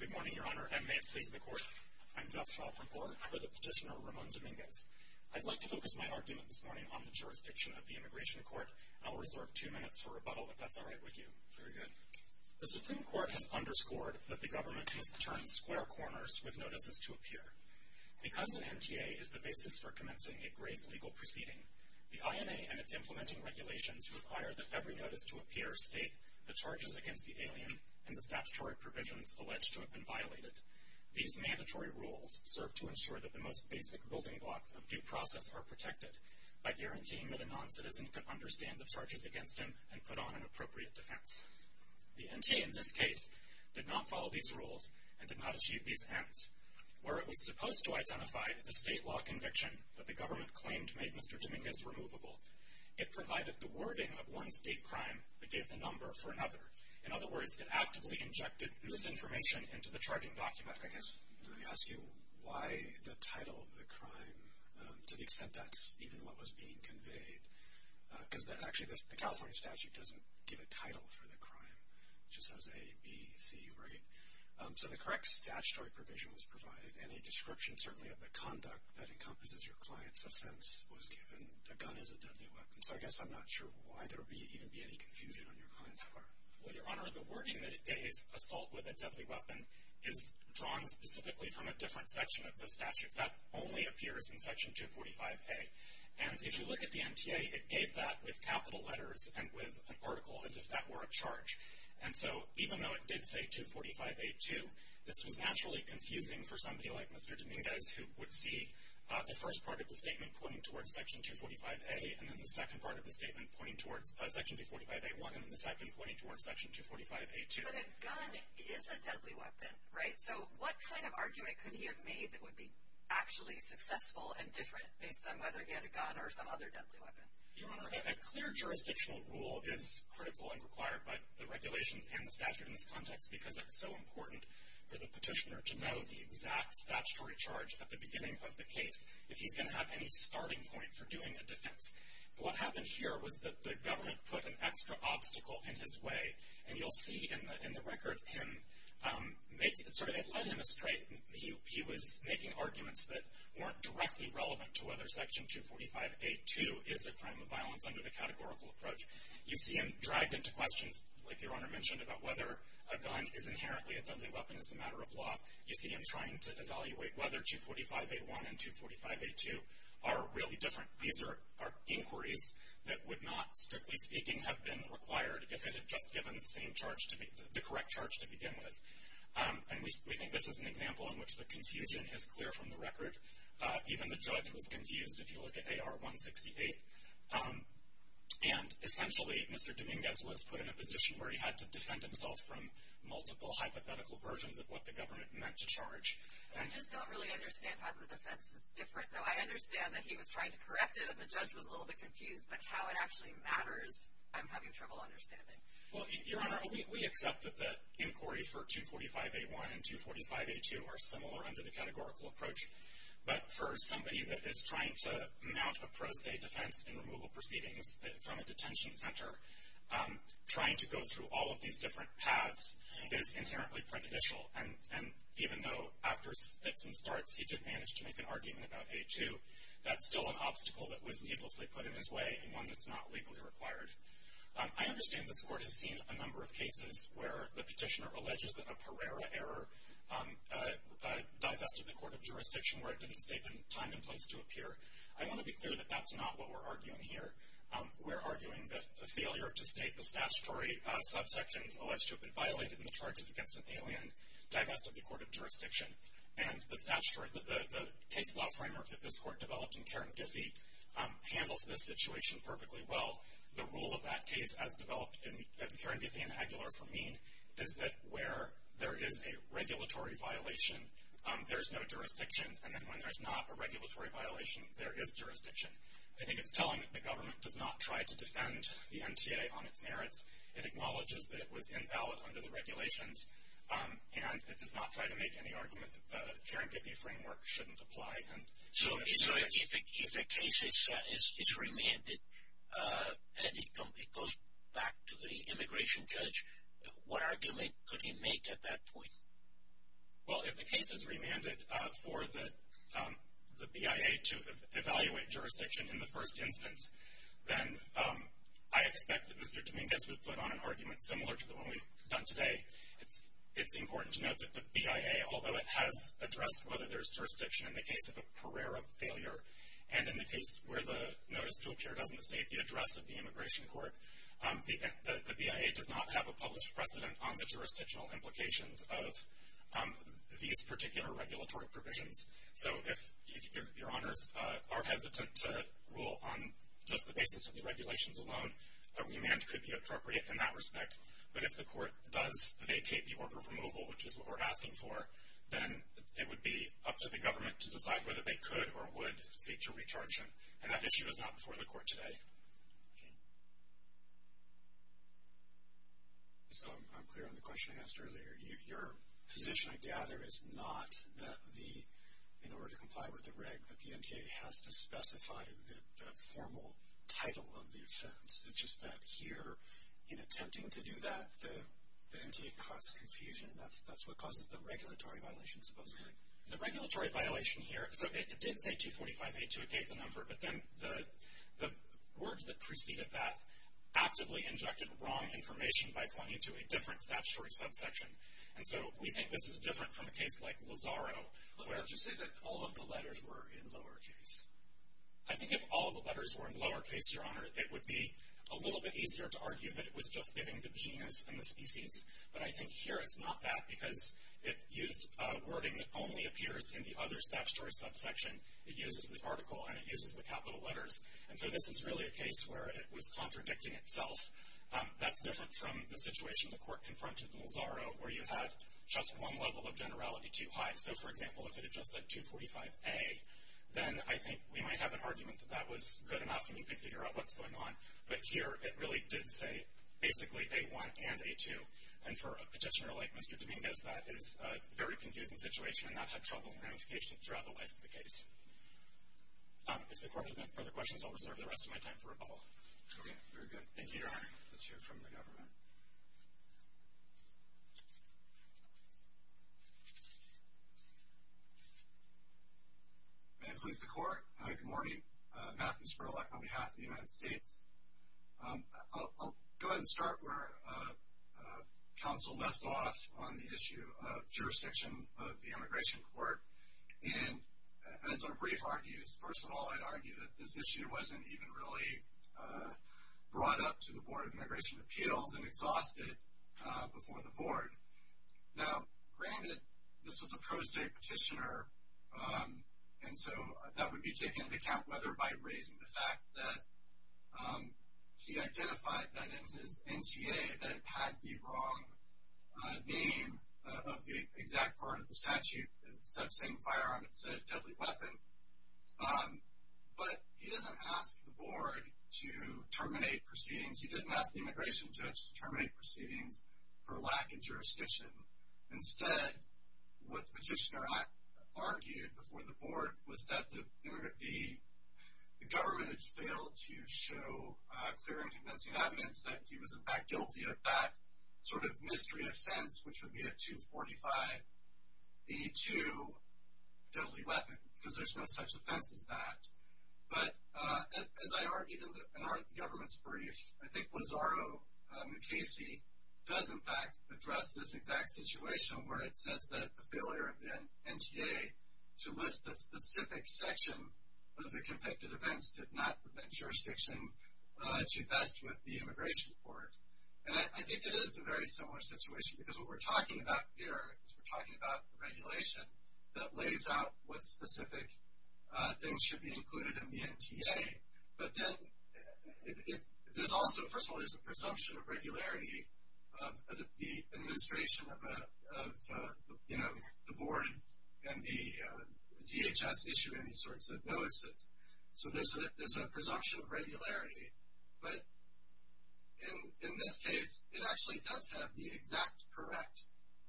Good morning, Your Honor, and may it please the Court, I'm Jeff Shaw from ORCA for the petitioner Ramon Dominguez. I'd like to focus my argument this morning on the jurisdiction of the Immigration Court. I'll reserve two minutes for rebuttal, if that's all right with you. Very good. The Supreme Court has underscored that the government needs to turn square corners with notices to appear. Because an MTA is the basis for commencing a great legal proceeding, the INA and its implementing regulations require that every notice to appear state the charges against the alien and the statutory provisions alleged to have been violated. These mandatory rules serve to ensure that the most basic building blocks of due process are protected by guaranteeing that a noncitizen can understand the charges against him and put on an appropriate defense. The NTA in this case did not follow these rules and did not achieve these ends. Where it was supposed to identify the state law conviction that the government claimed made Mr. Dominguez removable, it provided the wording of one state crime but gave the number for another. In other words, it actively injected misinformation into the charging document. I guess let me ask you why the title of the crime, to the extent that's even what was being conveyed, because actually the California statute doesn't give a title for the crime. It just says A, B, C, right? So the correct statutory provision was provided, and a description certainly of the conduct that encompasses your client's offense was given. A gun is a deadly weapon. So I guess I'm not sure why there would even be any confusion on your client's part. Well, Your Honor, the wording that it gave, assault with a deadly weapon, is drawn specifically from a different section of the statute. That only appears in Section 245A. And if you look at the NTA, it gave that with capital letters and with an article as if that were a charge. And so even though it did say 245A2, this was naturally confusing for somebody like Mr. Dominguez who would see the first part of the statement pointing towards Section 245A and then the second part of the statement pointing towards Section 245A1 and then the second pointing towards Section 245A2. But a gun is a deadly weapon, right? So what kind of argument could he have made that would be actually successful and different based on whether he had a gun or some other deadly weapon? Your Honor, a clear jurisdictional rule is critical and required by the regulations and the statute in this context because it's so important for the petitioner to know the exact statutory charge at the beginning of the case if he's going to have any starting point for doing a defense. But what happened here was that the government put an extra obstacle in his way. And you'll see in the record him make – sorry, it led him astray. He was making arguments that weren't directly relevant to whether Section 245A2 is a crime of violence under the categorical approach. You see him dragged into questions, like Your Honor mentioned, about whether a gun is inherently a deadly weapon as a matter of law. You see him trying to evaluate whether 245A1 and 245A2 are really different. These are inquiries that would not, strictly speaking, have been required if it had just given the correct charge to begin with. And we think this is an example in which the confusion is clear from the record. Even the judge was confused if you look at AR168. And essentially, Mr. Dominguez was put in a position where he had to defend himself from multiple hypothetical versions of what the government meant to charge. I just don't really understand how the defense is different, though. I understand that he was trying to correct it and the judge was a little bit confused. But how it actually matters, I'm having trouble understanding. Well, Your Honor, we accept that the inquiry for 245A1 and 245A2 are similar under the categorical approach. But for somebody that is trying to mount a pro se defense in removal proceedings from a detention center, trying to go through all of these different paths is inherently prejudicial. And even though after fits and starts he did manage to make an argument about A2, that's still an obstacle that was needlessly put in his way and one that's not legally required. I understand this Court has seen a number of cases where the petitioner alleges that a Pereira error divested the Court of Jurisdiction where it didn't state the time and place to appear. I want to be clear that that's not what we're arguing here. We're arguing that the failure to state the statutory subsections alleged to have been violated in the charges against an alien divested the Court of Jurisdiction. And the case law framework that this Court developed in Karen Giffey handles this situation perfectly well. The rule of that case, as developed in Karen Giffey and Aguilar for Mean, is that where there is a regulatory violation, there's no jurisdiction. And then when there's not a regulatory violation, there is jurisdiction. I think it's telling that the government does not try to defend the MTA on its merits. It acknowledges that it was invalid under the regulations. And it does not try to make any argument that the Karen Giffey framework shouldn't apply. So if a case is remanded and it goes back to the immigration judge, what argument could he make at that point? Well, if the case is remanded for the BIA to evaluate jurisdiction in the first instance, then I expect that Mr. Dominguez would put on an argument similar to the one we've done today. It's important to note that the BIA, although it has addressed whether there's jurisdiction in the case of a career of failure, and in the case where the notice to appear doesn't state the address of the immigration court, the BIA does not have a published precedent on the jurisdictional implications of these particular regulatory provisions. So if your honors are hesitant to rule on just the basis of the regulations alone, a remand could be appropriate in that respect. But if the court does vacate the order of removal, which is what we're asking for, then it would be up to the government to decide whether they could or would seek to recharge him. And that issue is not before the court today. Okay. So I'm clear on the question I asked earlier. Your position, I gather, is not that the, in order to comply with the reg, that the NTA has to specify the formal title of the offense. It's just that here, in attempting to do that, the NTA caused confusion, and that's what causes the regulatory violation, supposedly. The regulatory violation here, so it did say 24582, it gave the number, but then the words that preceded that actively injected wrong information by pointing to a different statutory subsection. And so we think this is different from a case like Lozaro, where... But you say that all of the letters were in lowercase. I think if all of the letters were in lowercase, Your Honor, it would be a little bit easier to argue that it was just giving the genus and the species. But I think here it's not that, because it used wording that only appears in the other statutory subsection. It uses the article and it uses the capital letters. And so this is really a case where it was contradicting itself. That's different from the situation the Court confronted in Lozaro, where you had just one level of generality too high. So, for example, if it had just said 245A, then I think we might have an argument that that was good enough and you could figure out what's going on. But here it really did say basically A1 and A2. And for a petitioner like Mr. Dominguez, that is a very confusing situation, and that's a troubling ramification throughout the life of the case. If the Court doesn't have further questions, I'll reserve the rest of my time for rebuttal. Okay, very good. Thank you, Your Honor. Let's hear from the government. May it please the Court. Good morning. Matthew Spurlock on behalf of the United States. I'll go ahead and start where counsel left off on the issue of jurisdiction of the Immigration Court. And as a brief argues, first of all, I'd argue that this issue wasn't even really brought up to the Board of Immigration Appeals and exhausted before the Board. Now, granted, this was a pro se petitioner, and so that would be taken into account whether by raising the fact that he identified that in his NCA that it had the wrong name of the exact part of the statute. Instead of saying firearm, it said deadly weapon. But he doesn't ask the Board to terminate proceedings. He didn't ask the immigration judge to terminate proceedings for lack of jurisdiction. Instead, what the petitioner argued before the Board was that the government had failed to show clear and convincing evidence that he was, in fact, guilty of that sort of mystery offense, which would be a 245E2 deadly weapon, because there's no such offense as that. But as I argued in the government's brief, I think Lazaro Mukasey does, in fact, address this exact situation where it says that the failure of the NTA to list the specific section of the convicted events did not prevent jurisdiction to vest with the Immigration Court. And I think it is a very similar situation, because what we're talking about here is we're talking about the regulation that lays out what specific things should be included in the NTA. But then there's also, first of all, there's a presumption of regularity of the administration of the Board and the DHS issuing these sorts of notices. So there's a presumption of regularity. But in this case, it actually does have the exact correct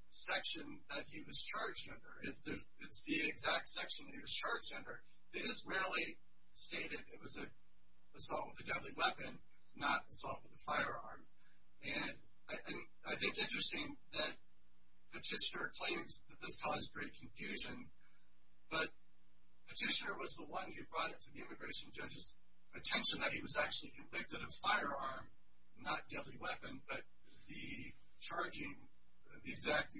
section that he was charged under. It's the exact section he was charged under. It is rarely stated it was an assault with a deadly weapon, not assault with a firearm. And I think it's interesting that Petitioner claims that this caused great confusion, but Petitioner was the one who brought it to the immigration judge's attention that he was actually convicted of firearm, not deadly weapon, but the charging, the exact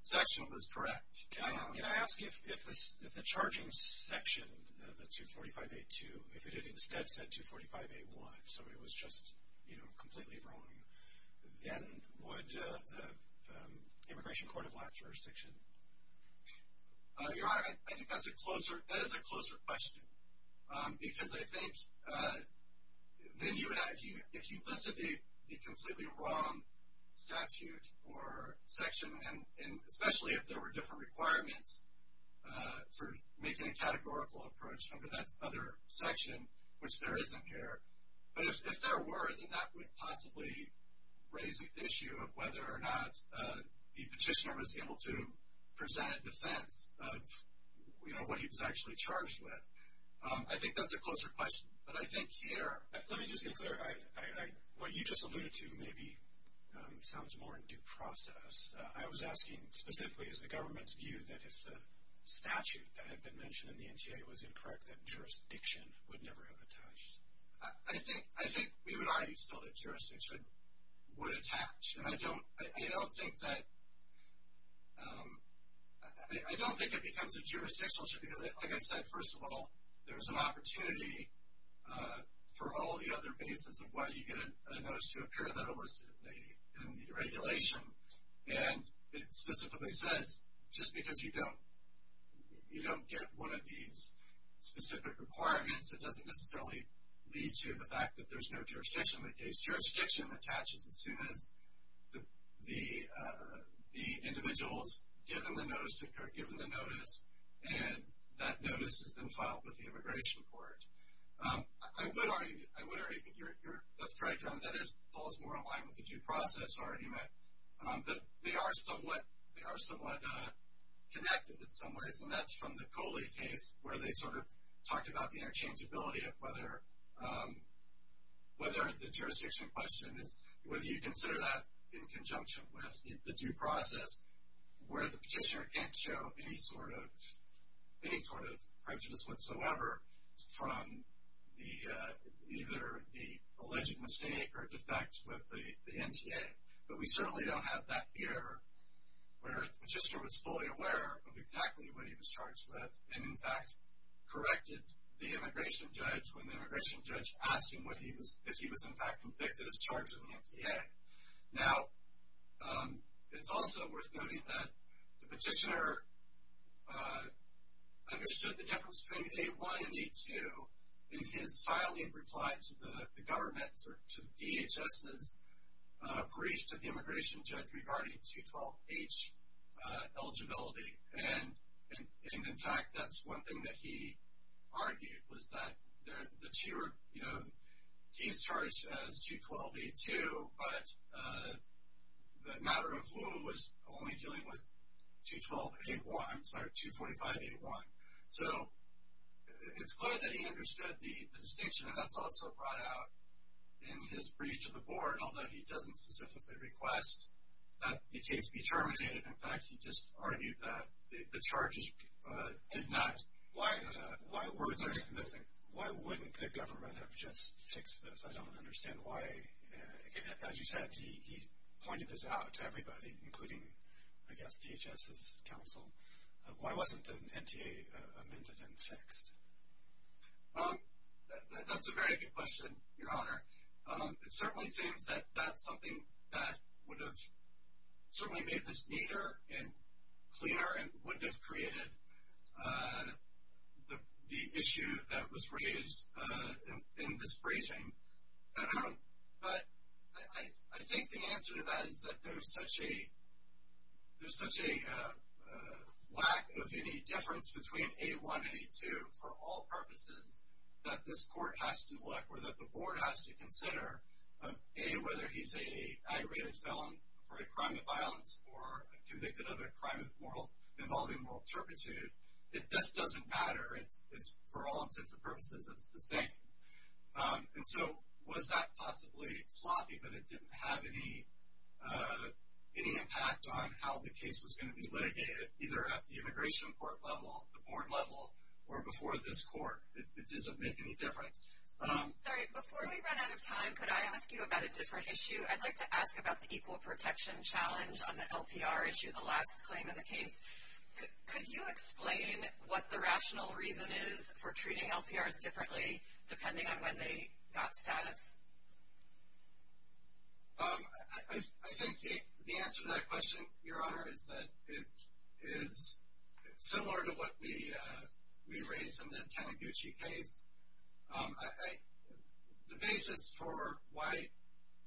section was correct. Can I ask if the charging section, the 245A2, if it had instead said 245A1, so it was just completely wrong, then would the Immigration Court have lacked jurisdiction? Your Honor, I think that is a closer question, because I think then you would have, if you listed the completely wrong statute or section, and especially if there were different requirements for making a categorical approach under that other section, which there isn't here, but if there were, then that would possibly raise the issue of whether or not the Petitioner was able to present a defense of, you know, what he was actually charged with. I think that's a closer question. But I think here Let me just get clear. What you just alluded to maybe sounds more in due process. I was asking specifically, is the government's view that if the statute that had been mentioned in the NTA was incorrect, that jurisdiction would never have attached? I think we would argue still that jurisdiction would attach, and I don't think that it becomes a jurisdictional issue, because like I said, first of all, there's an opportunity for all the other bases of why you get a notice to occur that are listed in the regulation. And it specifically says, just because you don't get one of these specific requirements, it doesn't necessarily lead to the fact that there's no jurisdiction in the case. Jurisdiction attaches as soon as the individuals given the notice occur, given the notice, and that notice has been filed with the Immigration Court. I would argue that's correct. That falls more in line with the due process argument that they are somewhat connected in some ways, and that's from the Coley case where they sort of talked about the interchangeability of whether the jurisdiction question is whether you consider that in conjunction with the due process where the petitioner can't show any sort of prejudice whatsoever from either the alleged mistake or defect with the NTA. But we certainly don't have that here where the petitioner was fully aware of exactly what he was charged with and, in fact, corrected the immigration judge when the immigration judge asked him if he was, in fact, convicted as charged in the NTA. Now, it's also worth noting that the petitioner understood the difference between A1 and A2. In his filing reply to the government or to DHS's brief to the immigration judge regarding 212H eligibility and, in fact, that's one thing that he argued was that the two were, you know, he's charged as 212A2, but the matter of rule was only dealing with 212A1, I'm sorry, 245A1. So it's clear that he understood the distinction, and that's also brought out in his brief to the board, although he doesn't specifically request that the case be terminated. In fact, he just argued that the charges did not. Why wouldn't the government have just fixed this? I don't understand why. As you said, he pointed this out to everybody, including, I guess, DHS's counsel. Why wasn't the NTA amended and fixed? That's a very good question, Your Honor. It certainly seems that that's something that would have certainly made this neater and clearer and wouldn't have created the issue that was raised in this briefing. But I think the answer to that is that there's such a lack of any difference between A1 and A2 for all purposes that this court has to look, or that the board has to consider, A, whether he's an aggravated felon for a crime of violence or convicted of a crime involving moral turpitude, that this doesn't matter. For all intents and purposes, it's the same. And so was that possibly sloppy, but it didn't have any impact on how the case was going to be litigated, either at the immigration court level, the board level, or before this court. It doesn't make any difference. Sorry, before we run out of time, could I ask you about a different issue? I'd like to ask about the equal protection challenge on the LPR issue, the last claim in the case. Could you explain what the rational reason is for treating LPRs differently, depending on when they got status? I think the answer to that question, Your Honor, is that it is similar to what we raised in the Taniguchi case. The basis for why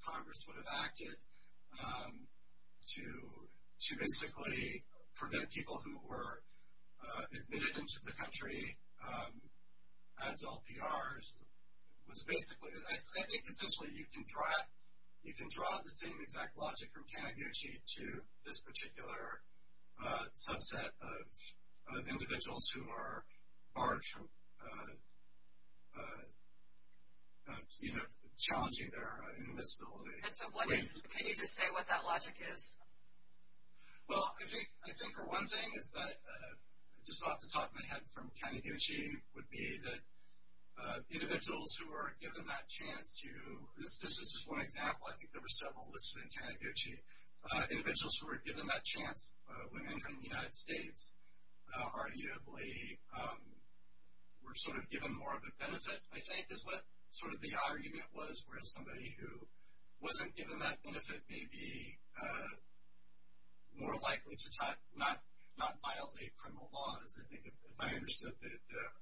Congress would have acted to basically prevent people who were admitted into the country as LPRs was basically, I think essentially you can draw the same exact logic from Taniguchi to this particular subset of individuals who are barred from challenging their invisibility. And so can you just say what that logic is? Well, I think the one thing is that, just off the top of my head from Taniguchi, would be that individuals who were given that chance to, this is just one example, I think there were several listed in Taniguchi, individuals who were given that chance when entering the United States arguably were sort of given more of a benefit, I think, is what sort of the argument was, where somebody who wasn't given that benefit may be more likely to not violate criminal laws. That's, I think, if I understood the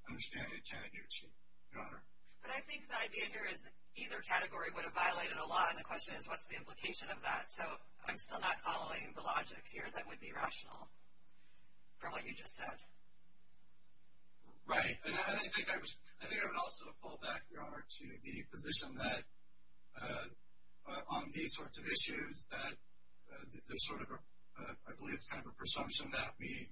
understanding of Taniguchi, Your Honor. But I think the idea here is either category would have violated a law, and the question is what's the implication of that? So I'm still not following the logic here that would be rational from what you just said. Right. And I think I would also pull back, Your Honor, to the position that on these sorts of issues, that there's sort of a, I believe it's kind of a presumption that we,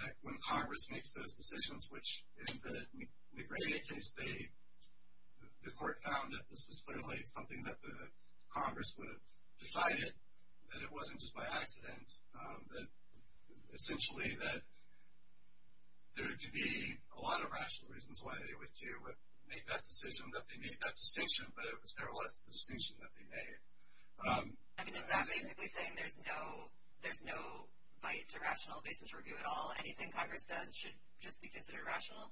that when Congress makes those decisions, which in the McRaney case, they, the court found that this was clearly something that the Congress would have decided, that it wasn't just by accident, that essentially that there could be a lot of rational reasons why they would make that decision, that they made that distinction, but it was nevertheless the distinction that they made. I mean, is that basically saying there's no, there's no right to rational basis review at all? Anything Congress does should just be considered rational?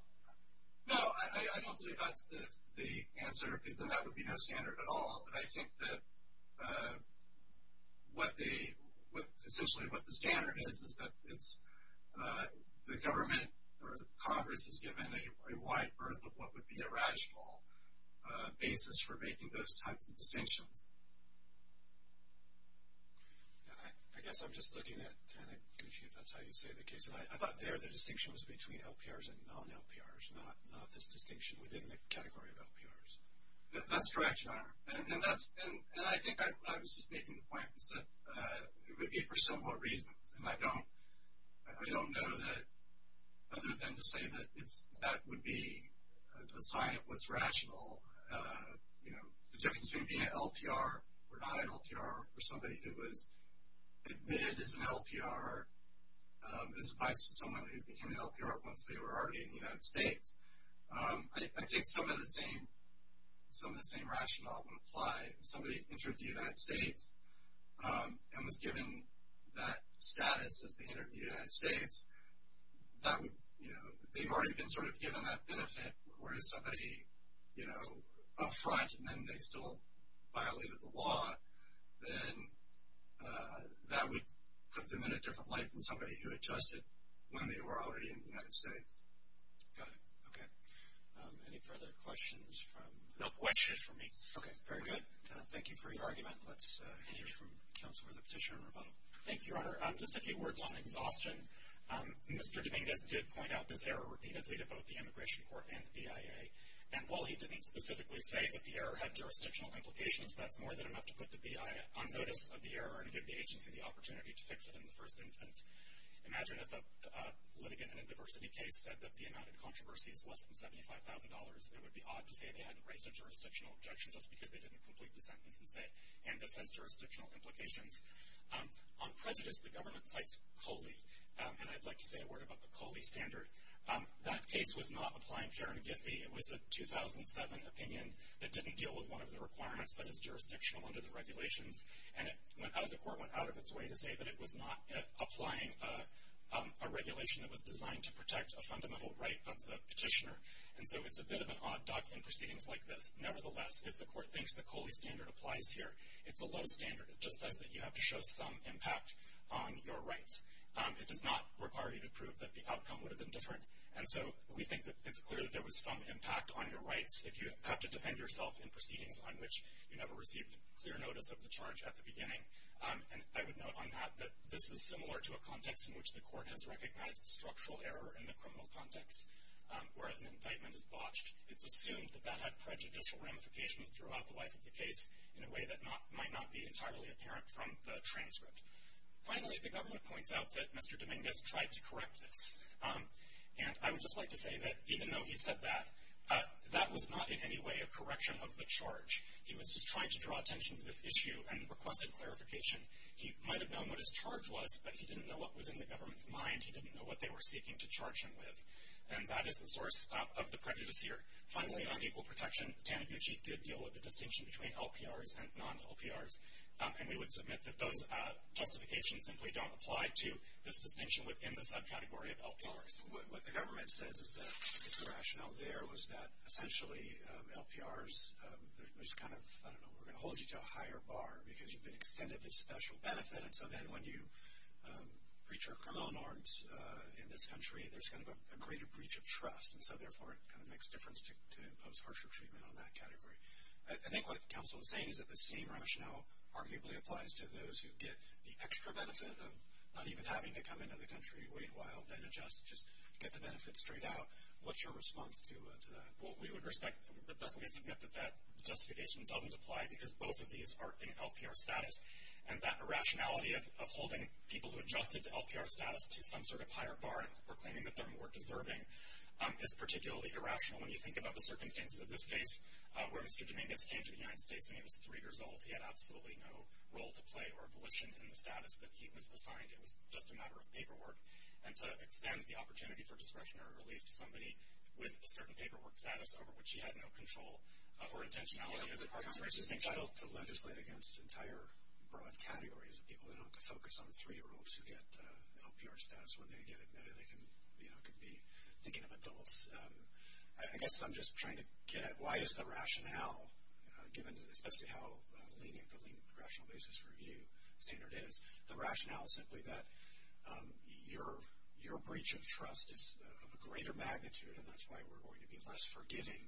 No. I don't believe that's the answer, is that that would be no standard at all. But I think that what the, essentially what the standard is, is that it's the government, or the Congress has given a wide berth of what would be a rational basis for making those types of distinctions. And I guess I'm just looking at, kind of confused if that's how you say the case, and I thought there the distinction was between LPRs and non-LPRs, not this distinction within the category of LPRs. That's correct, Your Honor, and that's, and I think I was just making the point, is that it would be for some more reasons, and I don't, I don't know that, other than to say that it's, that would be a sign of what's rational. You know, the difference between being an LPR or not an LPR, or somebody who was admitted as an LPR, as opposed to someone who became an LPR once they were already in the United States. I think some of the same, some of the same rationale would apply. If somebody entered the United States and was given that status as they entered the United States, that would, you know, they've already been sort of given that benefit, whereas somebody, you know, up front and then they still violated the law, then that would put them in a different light than somebody who had trusted when they were already in the United States. Go ahead. Okay. Any further questions from? No questions for me. Okay, very good. Thank you for your argument. Let's hear from Counselor, the Petitioner, and Rebuttal. Thank you, Your Honor. Just a few words on exhaustion. Mr. Dominguez did point out this error repeatedly to both the Immigration Court and the BIA, and while he didn't specifically say that the error had jurisdictional implications, that's more than enough to put the BIA on notice of the error and give the agency the opportunity to fix it in the first instance. Imagine if a litigant in a diversity case said that the amount of controversy is less than $75,000. It would be odd to say they hadn't raised a jurisdictional objection just because they didn't complete the sentence and say, and this has jurisdictional implications. On prejudice, the government cites COLE, and I'd like to say a word about the COLE standard. That case was not applying Karen Giffey. It was a 2007 opinion that didn't deal with one of the requirements that is jurisdictional under the regulations, and the court went out of its way to say that it was not applying a regulation that was designed to protect a fundamental right of the petitioner, and so it's a bit of an odd duck in proceedings like this. Nevertheless, if the court thinks the COLE standard applies here, it's a low standard. It just says that you have to show some impact on your rights. It does not require you to prove that the outcome would have been different, and so we think that it's clear that there was some impact on your rights if you have to defend yourself in proceedings on which you never received clear notice of the charge at the beginning. And I would note on that that this is similar to a context in which the court has recognized structural error in the criminal context where an indictment is botched. It's assumed that that had prejudicial ramifications throughout the life of the case in a way that might not be entirely apparent from the transcript. Finally, the government points out that Mr. Dominguez tried to correct this, and I would just like to say that even though he said that, that was not in any way a correction of the charge. He was just trying to draw attention to this issue and requested clarification. He might have known what his charge was, but he didn't know what was in the government's mind. He didn't know what they were seeking to charge him with, and that is the source of the prejudice here. Finally, on equal protection, Taniguchi did deal with the distinction between LPRs and non-LPRs, and we would submit that those justifications simply don't apply to this distinction within the subcategory of LPRs. What the government says is that the rationale there was that essentially LPRs, there's kind of, I don't know, we're going to hold you to a higher bar because you've been extended this special benefit, and so then when you breach our criminal norms in this country, there's kind of a greater breach of trust, and so therefore it kind of makes difference to impose harsher treatment on that category. I think what counsel was saying is that the same rationale arguably applies to those who get the extra benefit of not even having to come into the country, wait a while, then adjust, just get the benefit straight out. What's your response to that? Well, we would respect, definitely submit that that justification doesn't apply because both of these are in LPR status, and that irrationality of holding people who adjusted to LPR status to some sort of higher bar or claiming that they're more deserving is particularly irrational when you think about the circumstances of this case where Mr. Dominguez came to the United States when he was 3 years old. He had absolutely no role to play or volition in the status that he was assigned. It was just a matter of paperwork, and to extend the opportunity for discretionary relief to somebody with a certain paperwork status over which he had no control or intentionality as it pertains to the same child. Yeah, but Congress is entitled to legislate against entire broad categories of people who don't have to focus on 3-year-olds who get LPR status. When they get admitted, they can be thinking of adults. I guess I'm just trying to get at why is the rationale, given especially how lenient the lenient progressional basis review standard is, the rationale is simply that your breach of trust is of a greater magnitude, and that's why we're going to be less forgiving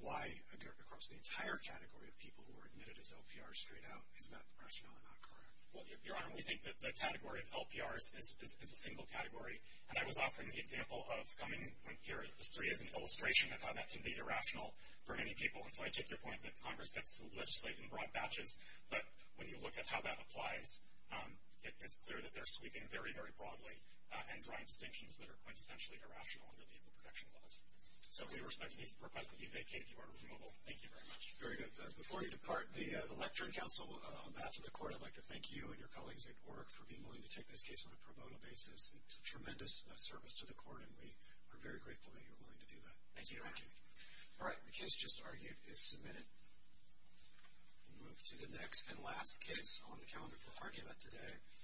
why across the entire category of people who were admitted as LPRs straight out is that rationale not correct? Well, Your Honor, we think that the category of LPRs is a single category, and I was offering the example of coming here as an illustration of how that can be irrational for many people, and so I take your point that Congress has to legislate in broad batches. But when you look at how that applies, it's clear that they're sweeping very, very broadly and drawing distinctions that are quintessentially irrational under legal protection laws. So we respect the request that you vacate if you are removable. Thank you very much. Very good. Before you depart, the electorate counsel on behalf of the court, I'd like to thank you and your colleagues at work for being willing to take this case on a pro bono basis. It's a tremendous service to the court, and we are very grateful that you're willing to do that. Thank you, Your Honor. Thank you. All right. The case just argued is submitted. We'll move to the next and last case on the calendar for argument today.